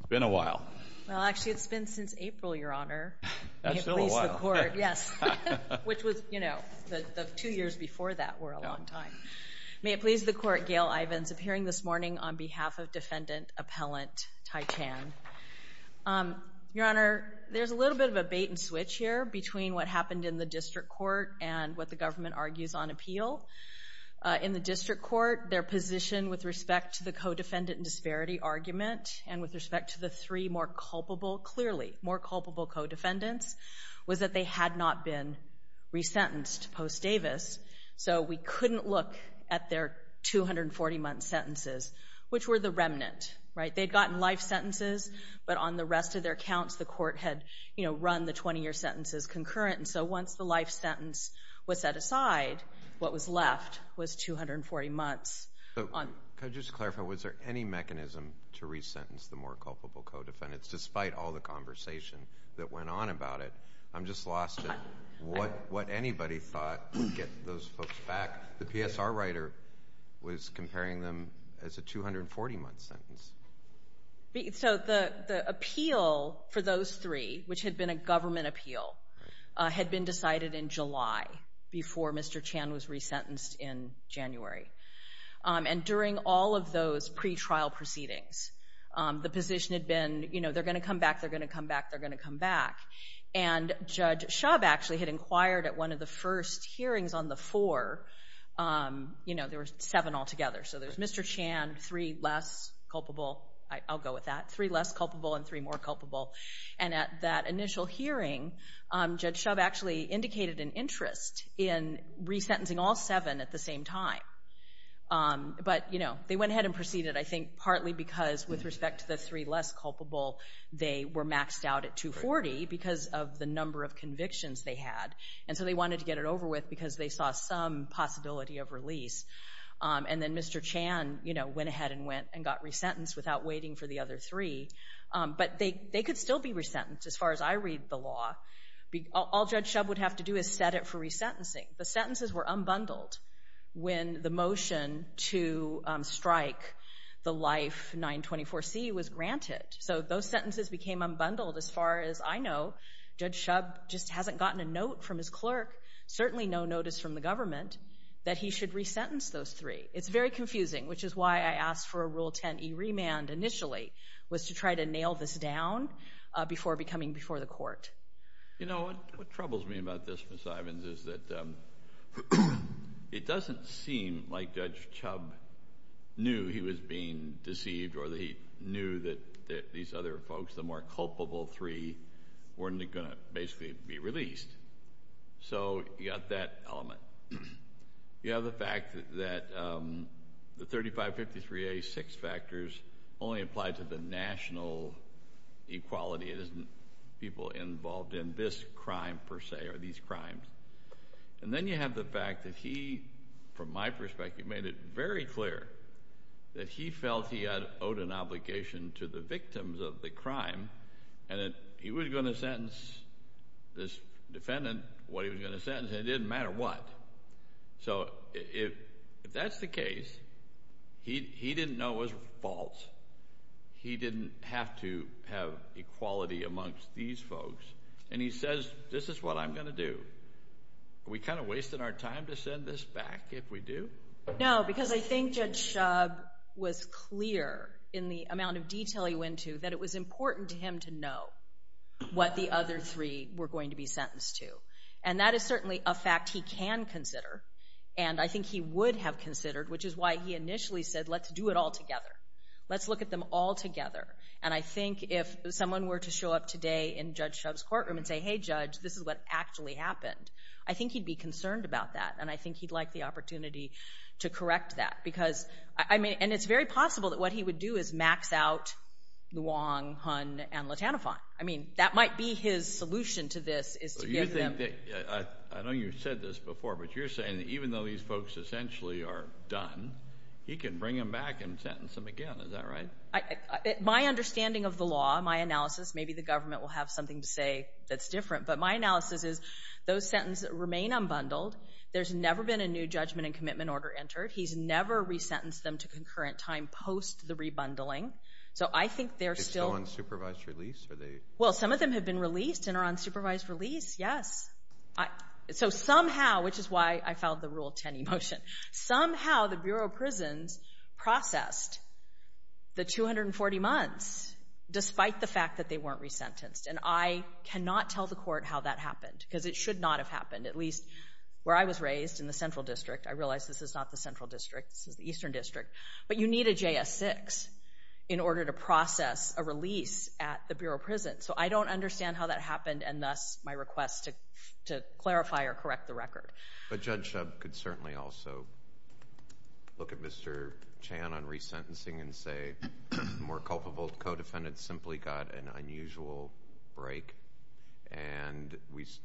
It's been a while. Well, actually it's been since April, Your Honor, which was, you know, the two years before that were a long time. May it please the Court, Gail Ivins appearing this morning on behalf of defendant appellant Thy Chann. Your Honor, there's a little bit of a bait-and-switch here between what happened in the district court and what the government argues on appeal. In the district court, their position with respect to the co-defendant disparity argument and with respect to the three more culpable, clearly more culpable co-defendants, was that they had not been resentenced post-Davis. So we couldn't look at their 240-month sentences, which were the remnant, right? They'd gotten life sentences, but on the rest of their counts the court had, you know, run the 20-year sentences concurrent. And so once the life sentence was set aside, what was to happen to re-sentence the more culpable co-defendants, despite all the conversation that went on about it? I'm just lost at what anybody thought would get those folks back. The PSR writer was comparing them as a 240-month sentence. So the appeal for those three, which had been a government appeal, had been decided in July before Mr. Chann was re-sentenced in January. And during all of those pretrial proceedings, the position had been, you know, they're going to come back, they're going to come back, they're going to come back. And Judge Shub actually had inquired at one of the first hearings on the four, you know, there were seven altogether. So there's Mr. Chann, three less culpable, I'll go with that, three less culpable, and three more culpable. And at that initial hearing, Judge Shub actually indicated an interest in re-sentencing all seven at the same time. But, you know, they went ahead and proceeded, I think, partly because with respect to the three less culpable, they were maxed out at 240 because of the number of convictions they had. And so they wanted to get it over with because they saw some possibility of release. And then Mr. Chann, you know, went ahead and went and got re-sentenced without waiting for the other three. But they could still be re-sentenced, as far as I read the law. All Judge Shub would have to do is set it for re-sentencing. The sentences were unbundled when the motion to strike the Life 924C was granted. So those sentences became unbundled, as far as I know. Judge Shub just hasn't gotten a note from his clerk, certainly no notice from the government, that he should re-sentence those three. It's very confusing, which is why I asked for a Rule 10e remand initially, was to try to nail this down before becoming before the court. You know, what troubles me about this, Ms. Ivins, is that it doesn't seem like Judge Shub knew he was being deceived or that he knew that these other folks, the more culpable three, weren't going to basically be released. So you got that element. You have the fact that the 3553A six factors only applied to the national equality. It isn't people involved in this crime, per se, or these crimes. And then you have the fact that he, from my perspective, made it very clear that he felt he owed an obligation to the victims of the crime, and that he was going to sentence this defendant what he was going to sentence, and it didn't matter what. So if that's the case, he didn't know it was false. He didn't have to have equality amongst these folks. And he says, this is what I'm going to do. Are we kind of wasting our time to send this back if we do? No, because I think Judge Shub was clear in the amount of detail he went to that it was important to him to know what the other three were going to be sentenced to. And that is certainly a fact he can consider, and I think he would have considered, which is why he initially said, let's do it all together. Let's look at them all together. And I think if someone were to show up today in Judge Shub's courtroom and say, hey Judge, this is what actually happened, I think he'd be concerned about that, and I think he'd like the opportunity to correct that. Because, I mean, and it's very possible that what he would do is max out Luong, Hun, and Latanafon. I mean, that might be his solution to this. I know you said this before, but you're saying that even though these folks essentially are done, he can bring them back and sentence them again, is that right? My understanding of the law, my analysis, maybe the government will have something to say that's different, but my analysis is those sentences remain unbundled. There's never been a new judgment and commitment order entered. He's never resentenced them to concurrent time post the re-bundling. So I think they're still on supervised release? Well, some of them have been released and are on supervised release, yes. So somehow, which is why I filed the Rule 10 e-motion, somehow the Bureau of Prisons processed the 240 months, despite the fact that they weren't resentenced. And I cannot tell the court how that happened, because it should not have happened. At least where I was raised in the Central District, I But you need a JS-6 in order to process a release at the Bureau of Prisons. So I don't understand how that happened, and thus my request to clarify or correct the record. But Judge Shub could certainly also look at Mr. Chan on resentencing and say, more culpable co-defendants simply got an unusual break, and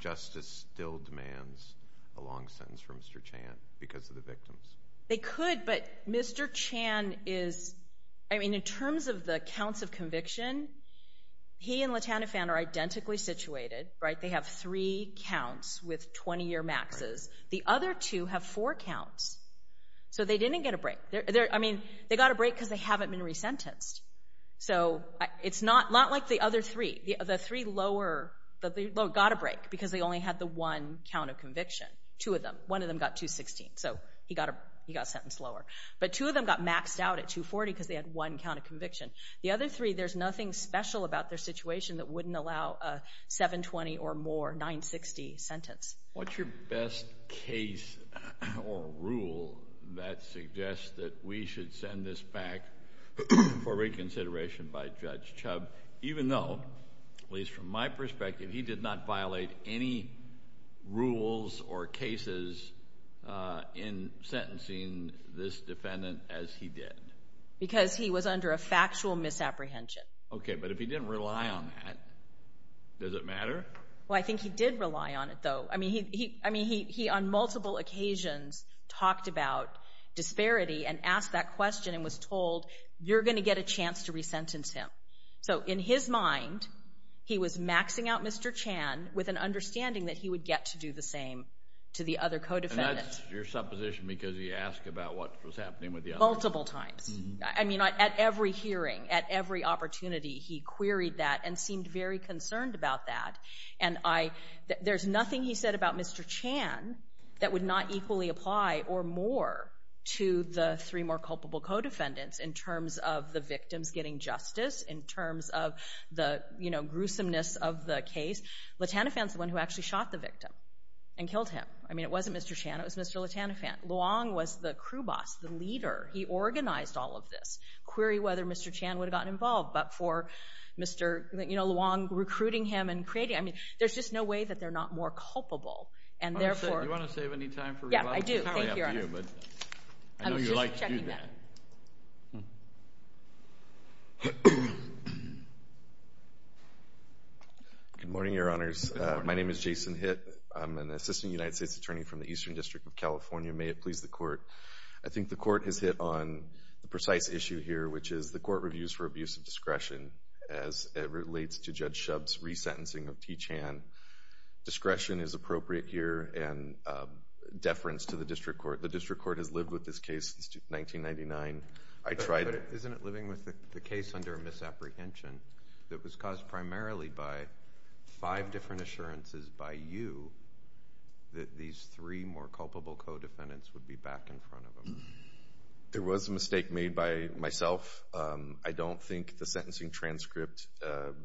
justice still demands a long sentence for Mr. Chan because of the Mr. Chan is, I mean, in terms of the counts of conviction, he and LaTanifan are identically situated, right? They have three counts with 20-year maxes. The other two have four counts, so they didn't get a break. I mean, they got a break because they haven't been resentenced. So it's not like the other three. The three lower got a break because they only had the one count of conviction, two of them. One of them got 216, so he got a sentence lower. But two of them got maxed out at 240 because they had one count of conviction. The other three, there's nothing special about their situation that wouldn't allow a 720 or more 960 sentence. What's your best case or rule that suggests that we should send this back for reconsideration by Judge Shub, even though, at least from my perspective, he did not violate any rules or cases in this defendant as he did? Because he was under a factual misapprehension. Okay, but if he didn't rely on that, does it matter? Well, I think he did rely on it, though. I mean, he on multiple occasions talked about disparity and asked that question and was told, you're going to get a chance to resentence him. So in his mind, he was maxing out Mr. Chan with an understanding that he would get to do the same to the other co-defendants. And that's your supposition because he asked about what was happening with the other? Multiple times. I mean, at every hearing, at every opportunity, he queried that and seemed very concerned about that. And I, there's nothing he said about Mr. Chan that would not equally apply or more to the three more culpable co-defendants in terms of the victims getting justice, in terms of the, you know, gruesomeness of the case. Letanifan's the one who actually shot the victim and killed him. I mean, it wasn't Mr. Chan, it was Mr. Letanifan. Luong was the crew boss, the leader. He organized all of this. Query whether Mr. Chan would have gotten involved, but for Mr., you know, Luong recruiting him and creating, I mean, there's just no way that they're not more culpable. And therefore— Do you want to save any time for— Yeah, I do. Thank you, Your Honor. I was just checking that. Good morning, Your Honors. My name is Jason Hitt. I'm an assistant United States attorney from the Eastern District of California. May it please the Court, I think the Court has hit on the precise issue here, which is the Court reviews for abuse of discretion as it relates to Judge Shub's resentencing of T. Chan. Discretion is appropriate here, and deference to the District Court. The District Court has lived with this case since 1999. I tried— But isn't it living with the case under misapprehension that was caused primarily by five different assurances by you that these three more culpable co-defendants would be back in front of them? There was a mistake made by myself. I don't think the sentencing transcript,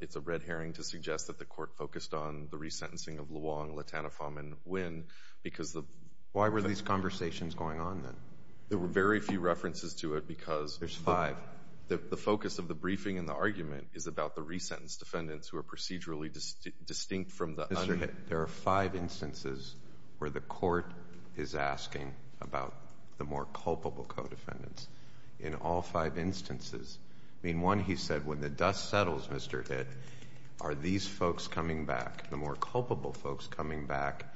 it's a red herring to suggest that the Court focused on the resentencing of Luong, Latana, Pham, and Nguyen because the— Why were these conversations going on then? There were very few references to it because— There's five. The focus of the briefing and the argument is about the resentenced defendants who are procedurally distinct from the other— Mr. Hitt, there are five instances where the Court is asking about the more culpable co-defendants in all five instances. I mean, one, he said, when the dust settles, Mr. Hitt, are these folks coming back, the more culpable folks coming back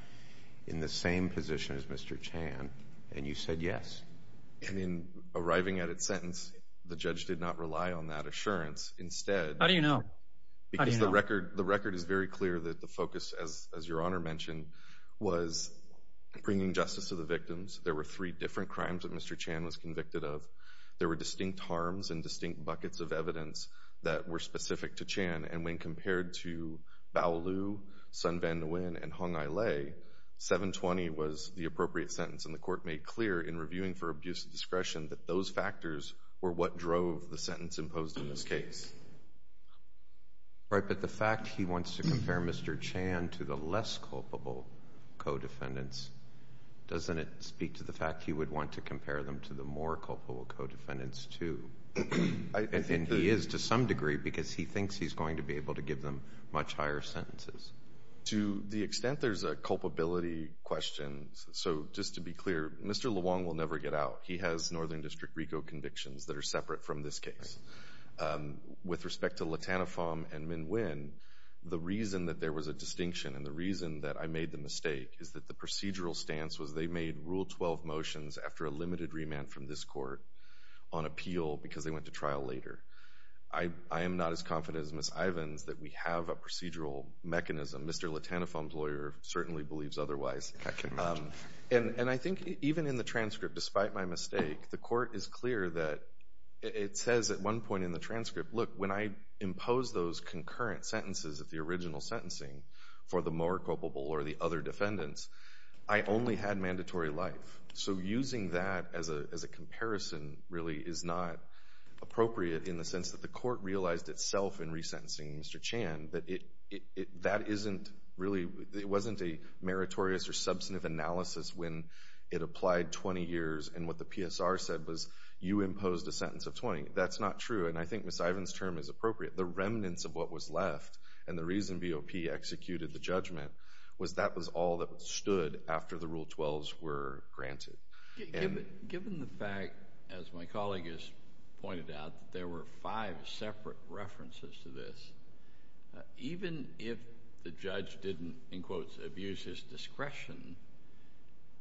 in the same position as Mr. Chan? And you said yes. And in arriving at its sentence, the judge did not rely on that assurance. Instead— How do you know? How do you know? The record is very clear that the focus, as Your Honor mentioned, was bringing justice to the victims. There were three different crimes that Mr. Chan was convicted of. There were distinct harms and distinct buckets of evidence that were specific to Chan. And when compared to Bao Lu, Son Van Nguyen, and Hong Ai Lei, 720 was the appropriate sentence. And the Court made clear in reviewing for abuse of discretion that those factors were what drove the sentence imposed in this case. Right, but the fact he wants to compare Mr. Chan to the less culpable co-defendants, doesn't it speak to the fact he would want to compare them to the more culpable co-defendants, too? And he is to some degree, because he thinks he's going to be able to give them much higher sentences. To the extent there's a culpability question, so just to be clear, Mr. Leung will never get out. He has Northern District RICO convictions that are separate from this case. With respect to Latanifong and Minh Nguyen, the reason that there was a distinction and the reason that I made the mistake is that the procedural stance was they made Rule 12 motions after a limited remand from this court on appeal because they went to trial later. I am not as confident as Ms. Ivins that we have a procedural mechanism. Mr. Latanifong's lawyer certainly believes otherwise. I can imagine. And I think even in the transcript, despite my mistake, the court is clear that it says at one point in the transcript, look, when I impose those concurrent sentences of the original sentencing for the more culpable or the other defendants, I only had mandatory life. So using that as a comparison really is not appropriate in the sense that the court realized itself in resentencing Mr. Chan that it wasn't a meritorious or substantive analysis when it applied 20 years and what the PSR said was you imposed a sentence of 20. That's not true. And I think Ms. Ivins' term is appropriate. The remnants of what was left and the reason BOP executed the judgment was that was all that stood after the Rule 12s were granted. Given the fact, as my colleague has pointed out, that there were five separate references to this, even if the judge didn't, in quotes, abuse his discretion,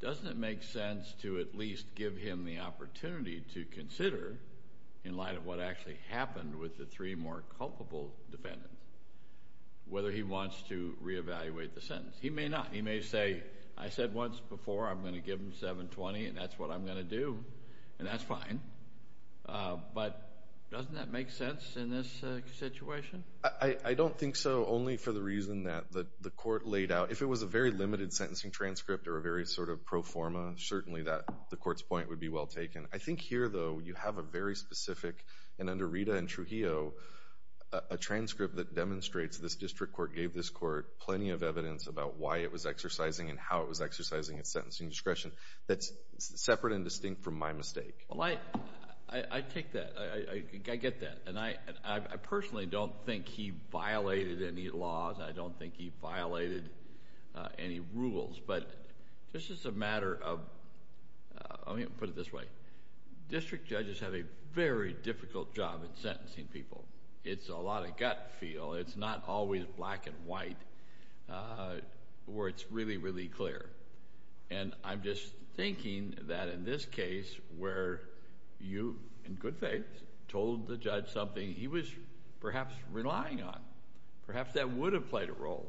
doesn't it make sense to at least give him the opportunity to consider, in light of what actually happened with the three more culpable defendants, whether he wants to reevaluate the sentence? He may not. He may say, I said once before I'm going to give him 720, and that's what I'm going to do, and that's fine. But doesn't that make sense in this situation? I don't think so, only for the reason that the court laid out, if it was a very limited sentencing transcript or a very sort of pro forma, certainly the court's point would be well taken. I think here, though, you have a very specific, and under Rita and Trujillo, a transcript that demonstrates this district court gave this court plenty of evidence about why it was exercising and how it was exercising its sentencing discretion that's separate and distinct from my mistake. I take that, I get that, and I personally don't think he violated any laws. I don't think he violated any rules, but this is a matter of... let me put it this way. District judges have a very difficult job in sentencing people. It's a lot of gut feel, it's not always black and white, where it's really, really clear. I'm just thinking that in this case, where you, in good faith, told the judge something he was perhaps relying on, perhaps that would have played a role.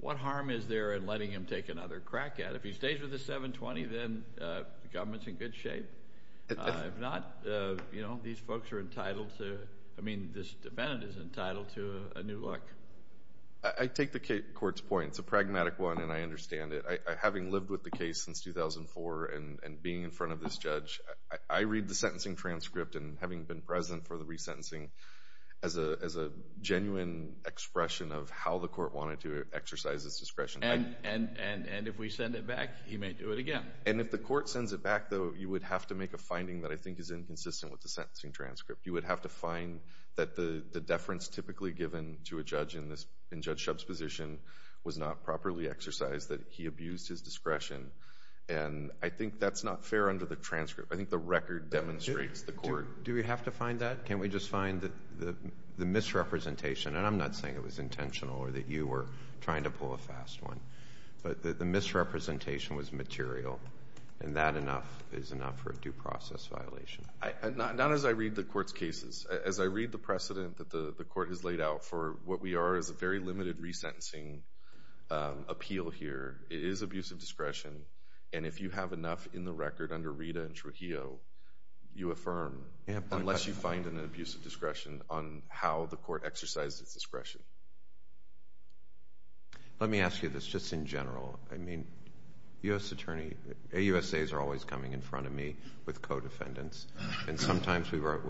What harm is there in letting him take another crack at it? If he stays with the 720, then the government's in good shape. If not, these folks are entitled to... I mean, this defendant is entitled to a new look. I take the court's point. It's a pragmatic one and I understand it. Having lived with the case since 2004 and being in front of this judge, I read the sentencing transcript and having been present for the resentencing as a genuine expression of how the court wanted to exercise its discretion. If we send it back, he may do it again. If the court sends it back, though, you would have to make a finding that I think is inconsistent with the sentencing transcript. You would have to find that the deference typically given to a judge in Judge Shub's position was not properly exercised, that he abused his discretion. I think that's not fair under the transcript. I think the record demonstrates the court... Do we have to find that? Can't we just find the misrepresentation, and I'm not saying it was intentional or that you were trying to pull a fast one, but that the misrepresentation was material and that enough is enough for a due process violation? Not as I read the court's cases. As I read the precedent that the court has laid out for what we are as a very limited resentencing appeal here, it is abuse of discretion, and if you have enough in the record under Rita and Trujillo, you affirm, unless you find an abuse of discretion on how the court exercised its discretion. Let me ask you this just in general. I mean, U.S. Attorney... AUSAs are always coming in front of me with co-defendants, and sometimes we were...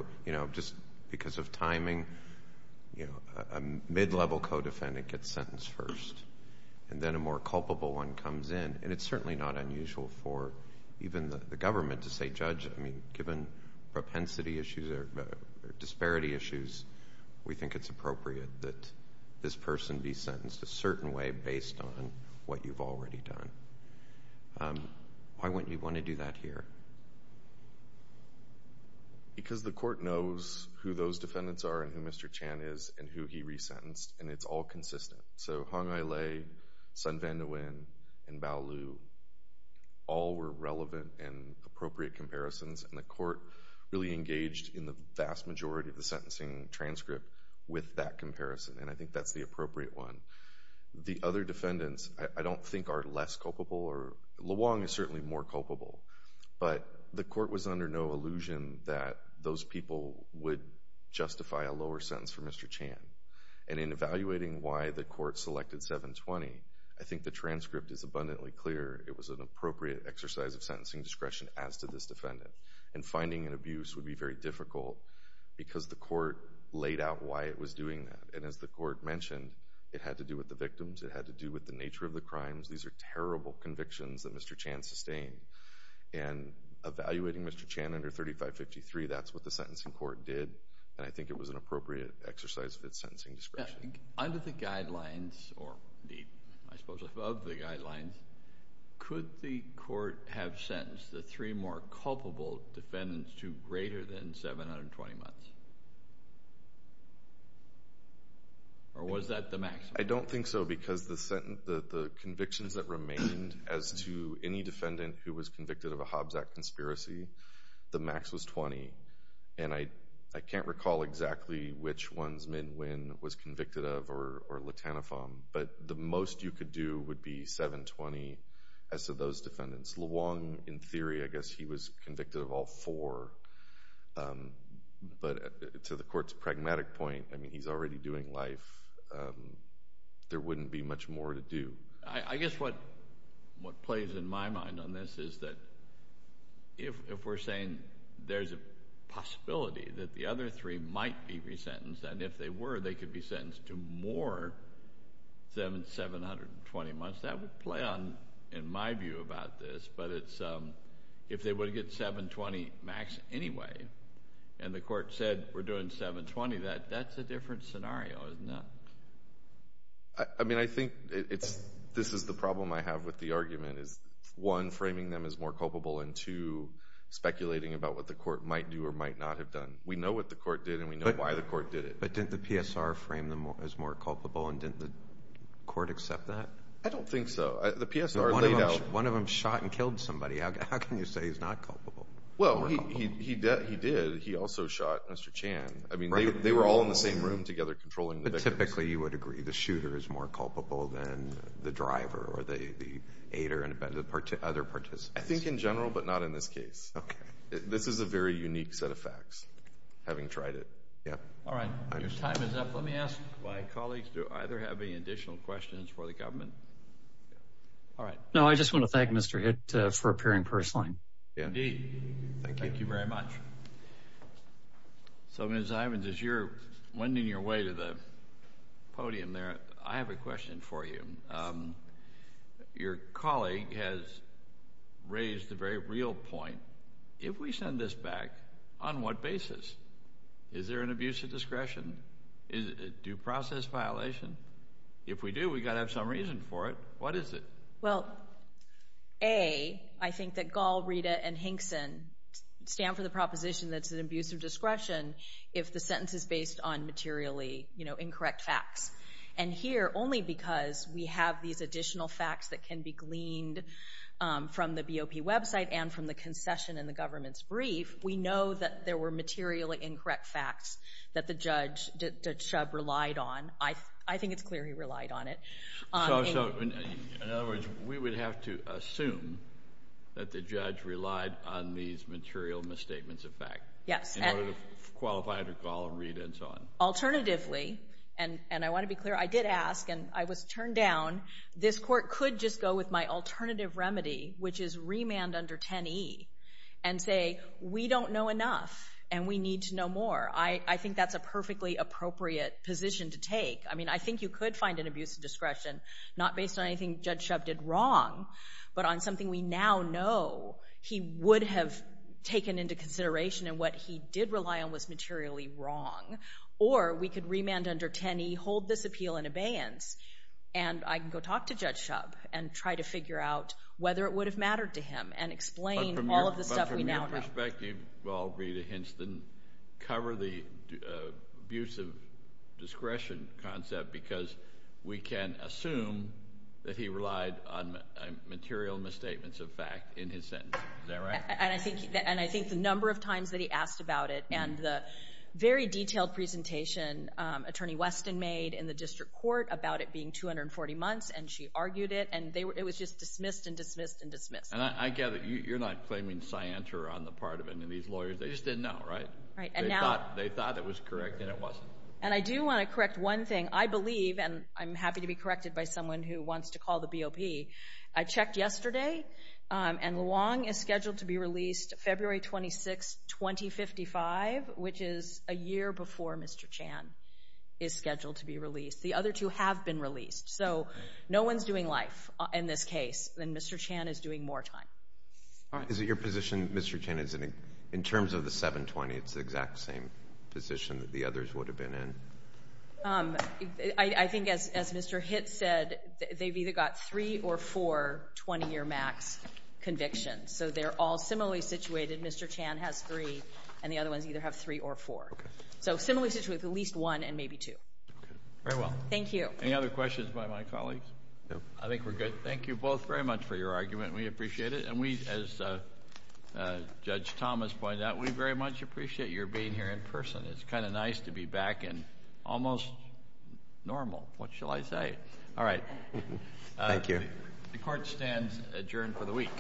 just because of timing, a mid-level co-defendant gets sentenced first, and then a more culpable one comes in, and it's certainly not unusual for even the government to say, Judge, given propensity issues or disparity issues, we think it's appropriate that this be already done. Why wouldn't you want to do that here? Because the court knows who those defendants are and who Mr. Chan is and who he resentenced, and it's all consistent. So Hong Ai Lei, Sun Van Nguyen, and Bao Liu, all were relevant and appropriate comparisons, and the court really engaged in the vast majority of the sentencing transcript with that comparison, and I think that's the appropriate one. The other defendants, I don't think, are less culpable or... Leung is certainly more culpable, but the court was under no illusion that those people would justify a lower sentence for Mr. Chan, and in evaluating why the court selected 720, I think the transcript is abundantly clear it was an appropriate exercise of sentencing discretion as to this defendant, and finding an abuse would be very difficult because the court laid out why it was an abuse. It had to do with the victims. It had to do with the nature of the crimes. These are terrible convictions that Mr. Chan sustained, and evaluating Mr. Chan under 3553, that's what the sentencing court did, and I think it was an appropriate exercise of its sentencing discretion. Under the guidelines, or indeed, I suppose above the guidelines, could the court have sentenced the three more culpable defendants to greater than 720 months, or was that the maximum? I don't think so because the convictions that remained as to any defendant who was convicted of a Hobbs Act conspiracy, the max was 20, and I can't recall exactly which ones Minh Nguyen was convicted of or Le Tanafong, but the most you could do would be 720 as to those defendants. Leung, in theory, I guess he was convicted of all four, but to the court's understanding in life, there wouldn't be much more to do. I guess what plays in my mind on this is that if we're saying there's a possibility that the other three might be resentenced, and if they were, they could be sentenced to more than 720 months, that would play on in my view about this, but if they would get 720 max anyway, and the court said we're going to do that, that's a different scenario, isn't it? I think this is the problem I have with the argument, is one, framing them as more culpable, and two, speculating about what the court might do or might not have done. We know what the court did, and we know why the court did it. But didn't the PSR frame them as more culpable, and didn't the court accept that? I don't think so. The PSR laid out— One of them shot and killed somebody. How can you say he's not culpable? Well, he did. He also shot Mr. Chan. I mean, they were all in the same room together controlling the victims. But typically, you would agree the shooter is more culpable than the driver or the aider and other participants. I think in general, but not in this case. This is a very unique set of facts, having tried it. Yeah. All right. Your time is up. Let me ask my colleagues, do either have any additional questions for the government? All right. No, I just want to thank Mr. Hitt for appearing personally. Indeed. Thank you. Thank you very much. So, Ms. Ivins, as you're wending your way to the podium there, I have a question for you. Your colleague has raised a very real point. If we send this back, on what basis? Is there an abuse of discretion? Is it a due process violation? If we do, we've got to have some reason for it. What is it? Well, A, I think that Gall, Rita, and Hinkson stand for the proposition that's an abuse of discretion if the sentence is based on materially incorrect facts. And here, only because we have these additional facts that can be gleaned from the BOP website and from the concession in the government's brief, we know that there were materially incorrect facts that the judge relied on. I think it's clear he relied on it. So, in other words, we would have to assume that the judge relied on these material misstatements of fact? Yes. In order to qualify under Gall, Rita, and so on? Alternatively, and I want to be clear, I did ask, and I was turned down, this court could just go with my alternative remedy, which is remand under 10E, and say, we don't know enough, and we need to know more. I think that's a perfectly appropriate position to take. I mean, I think you could find an abuse of discretion not based on anything Judge Shub did wrong, but on something we now know he would have taken into consideration, and what he did rely on was materially wrong. Or, we could remand under 10E, hold this appeal in abeyance, and I can go talk to Judge Shub and try to figure out whether it would have mattered to him and explain all of the stuff we now know. But from your perspective, Gall, Rita, Hinson, cover the abuse of discretion concept, because we can assume that he relied on material misstatements of fact in his sentence. Is that right? And I think the number of times that he asked about it, and the very detailed presentation Attorney Weston made in the district court about it being 240 months, and she argued it, and it was just dismissed and dismissed and dismissed. And I gather you're not claiming scienter on the part of any of these lawyers. They just didn't know, right? Right. And now... They thought it was correct, and it wasn't. And I do want to correct one thing. I believe, and I'm happy to be corrected by someone who wants to call the BOP, I checked yesterday, and Luong is scheduled to be released February 26, 2055, which is a year before Mr. Chan is scheduled to be released. The other two have been released. So no one's doing life in this case, and Mr. Chan is doing more time. All right. Is it your position, Mr. Chan, in terms of the 720, it's the exact same position that the others would have been in? I think as Mr. Hitt said, they've either got three or four 20-year max convictions. So they're all similarly situated. Mr. Chan has three, and the other ones either have three or four. Okay. So similarly situated with at least one and maybe two. Okay. Very well. Thank you. Any other questions by my colleagues? No. I think we're good. Thank you both very much for your argument. We appreciate it. And we, as Judge Thomas pointed out, we very much appreciate your being here in person. It's kind of nice to be back and almost normal. What shall I say? All right. Thank you. The court stands adjourned for the week.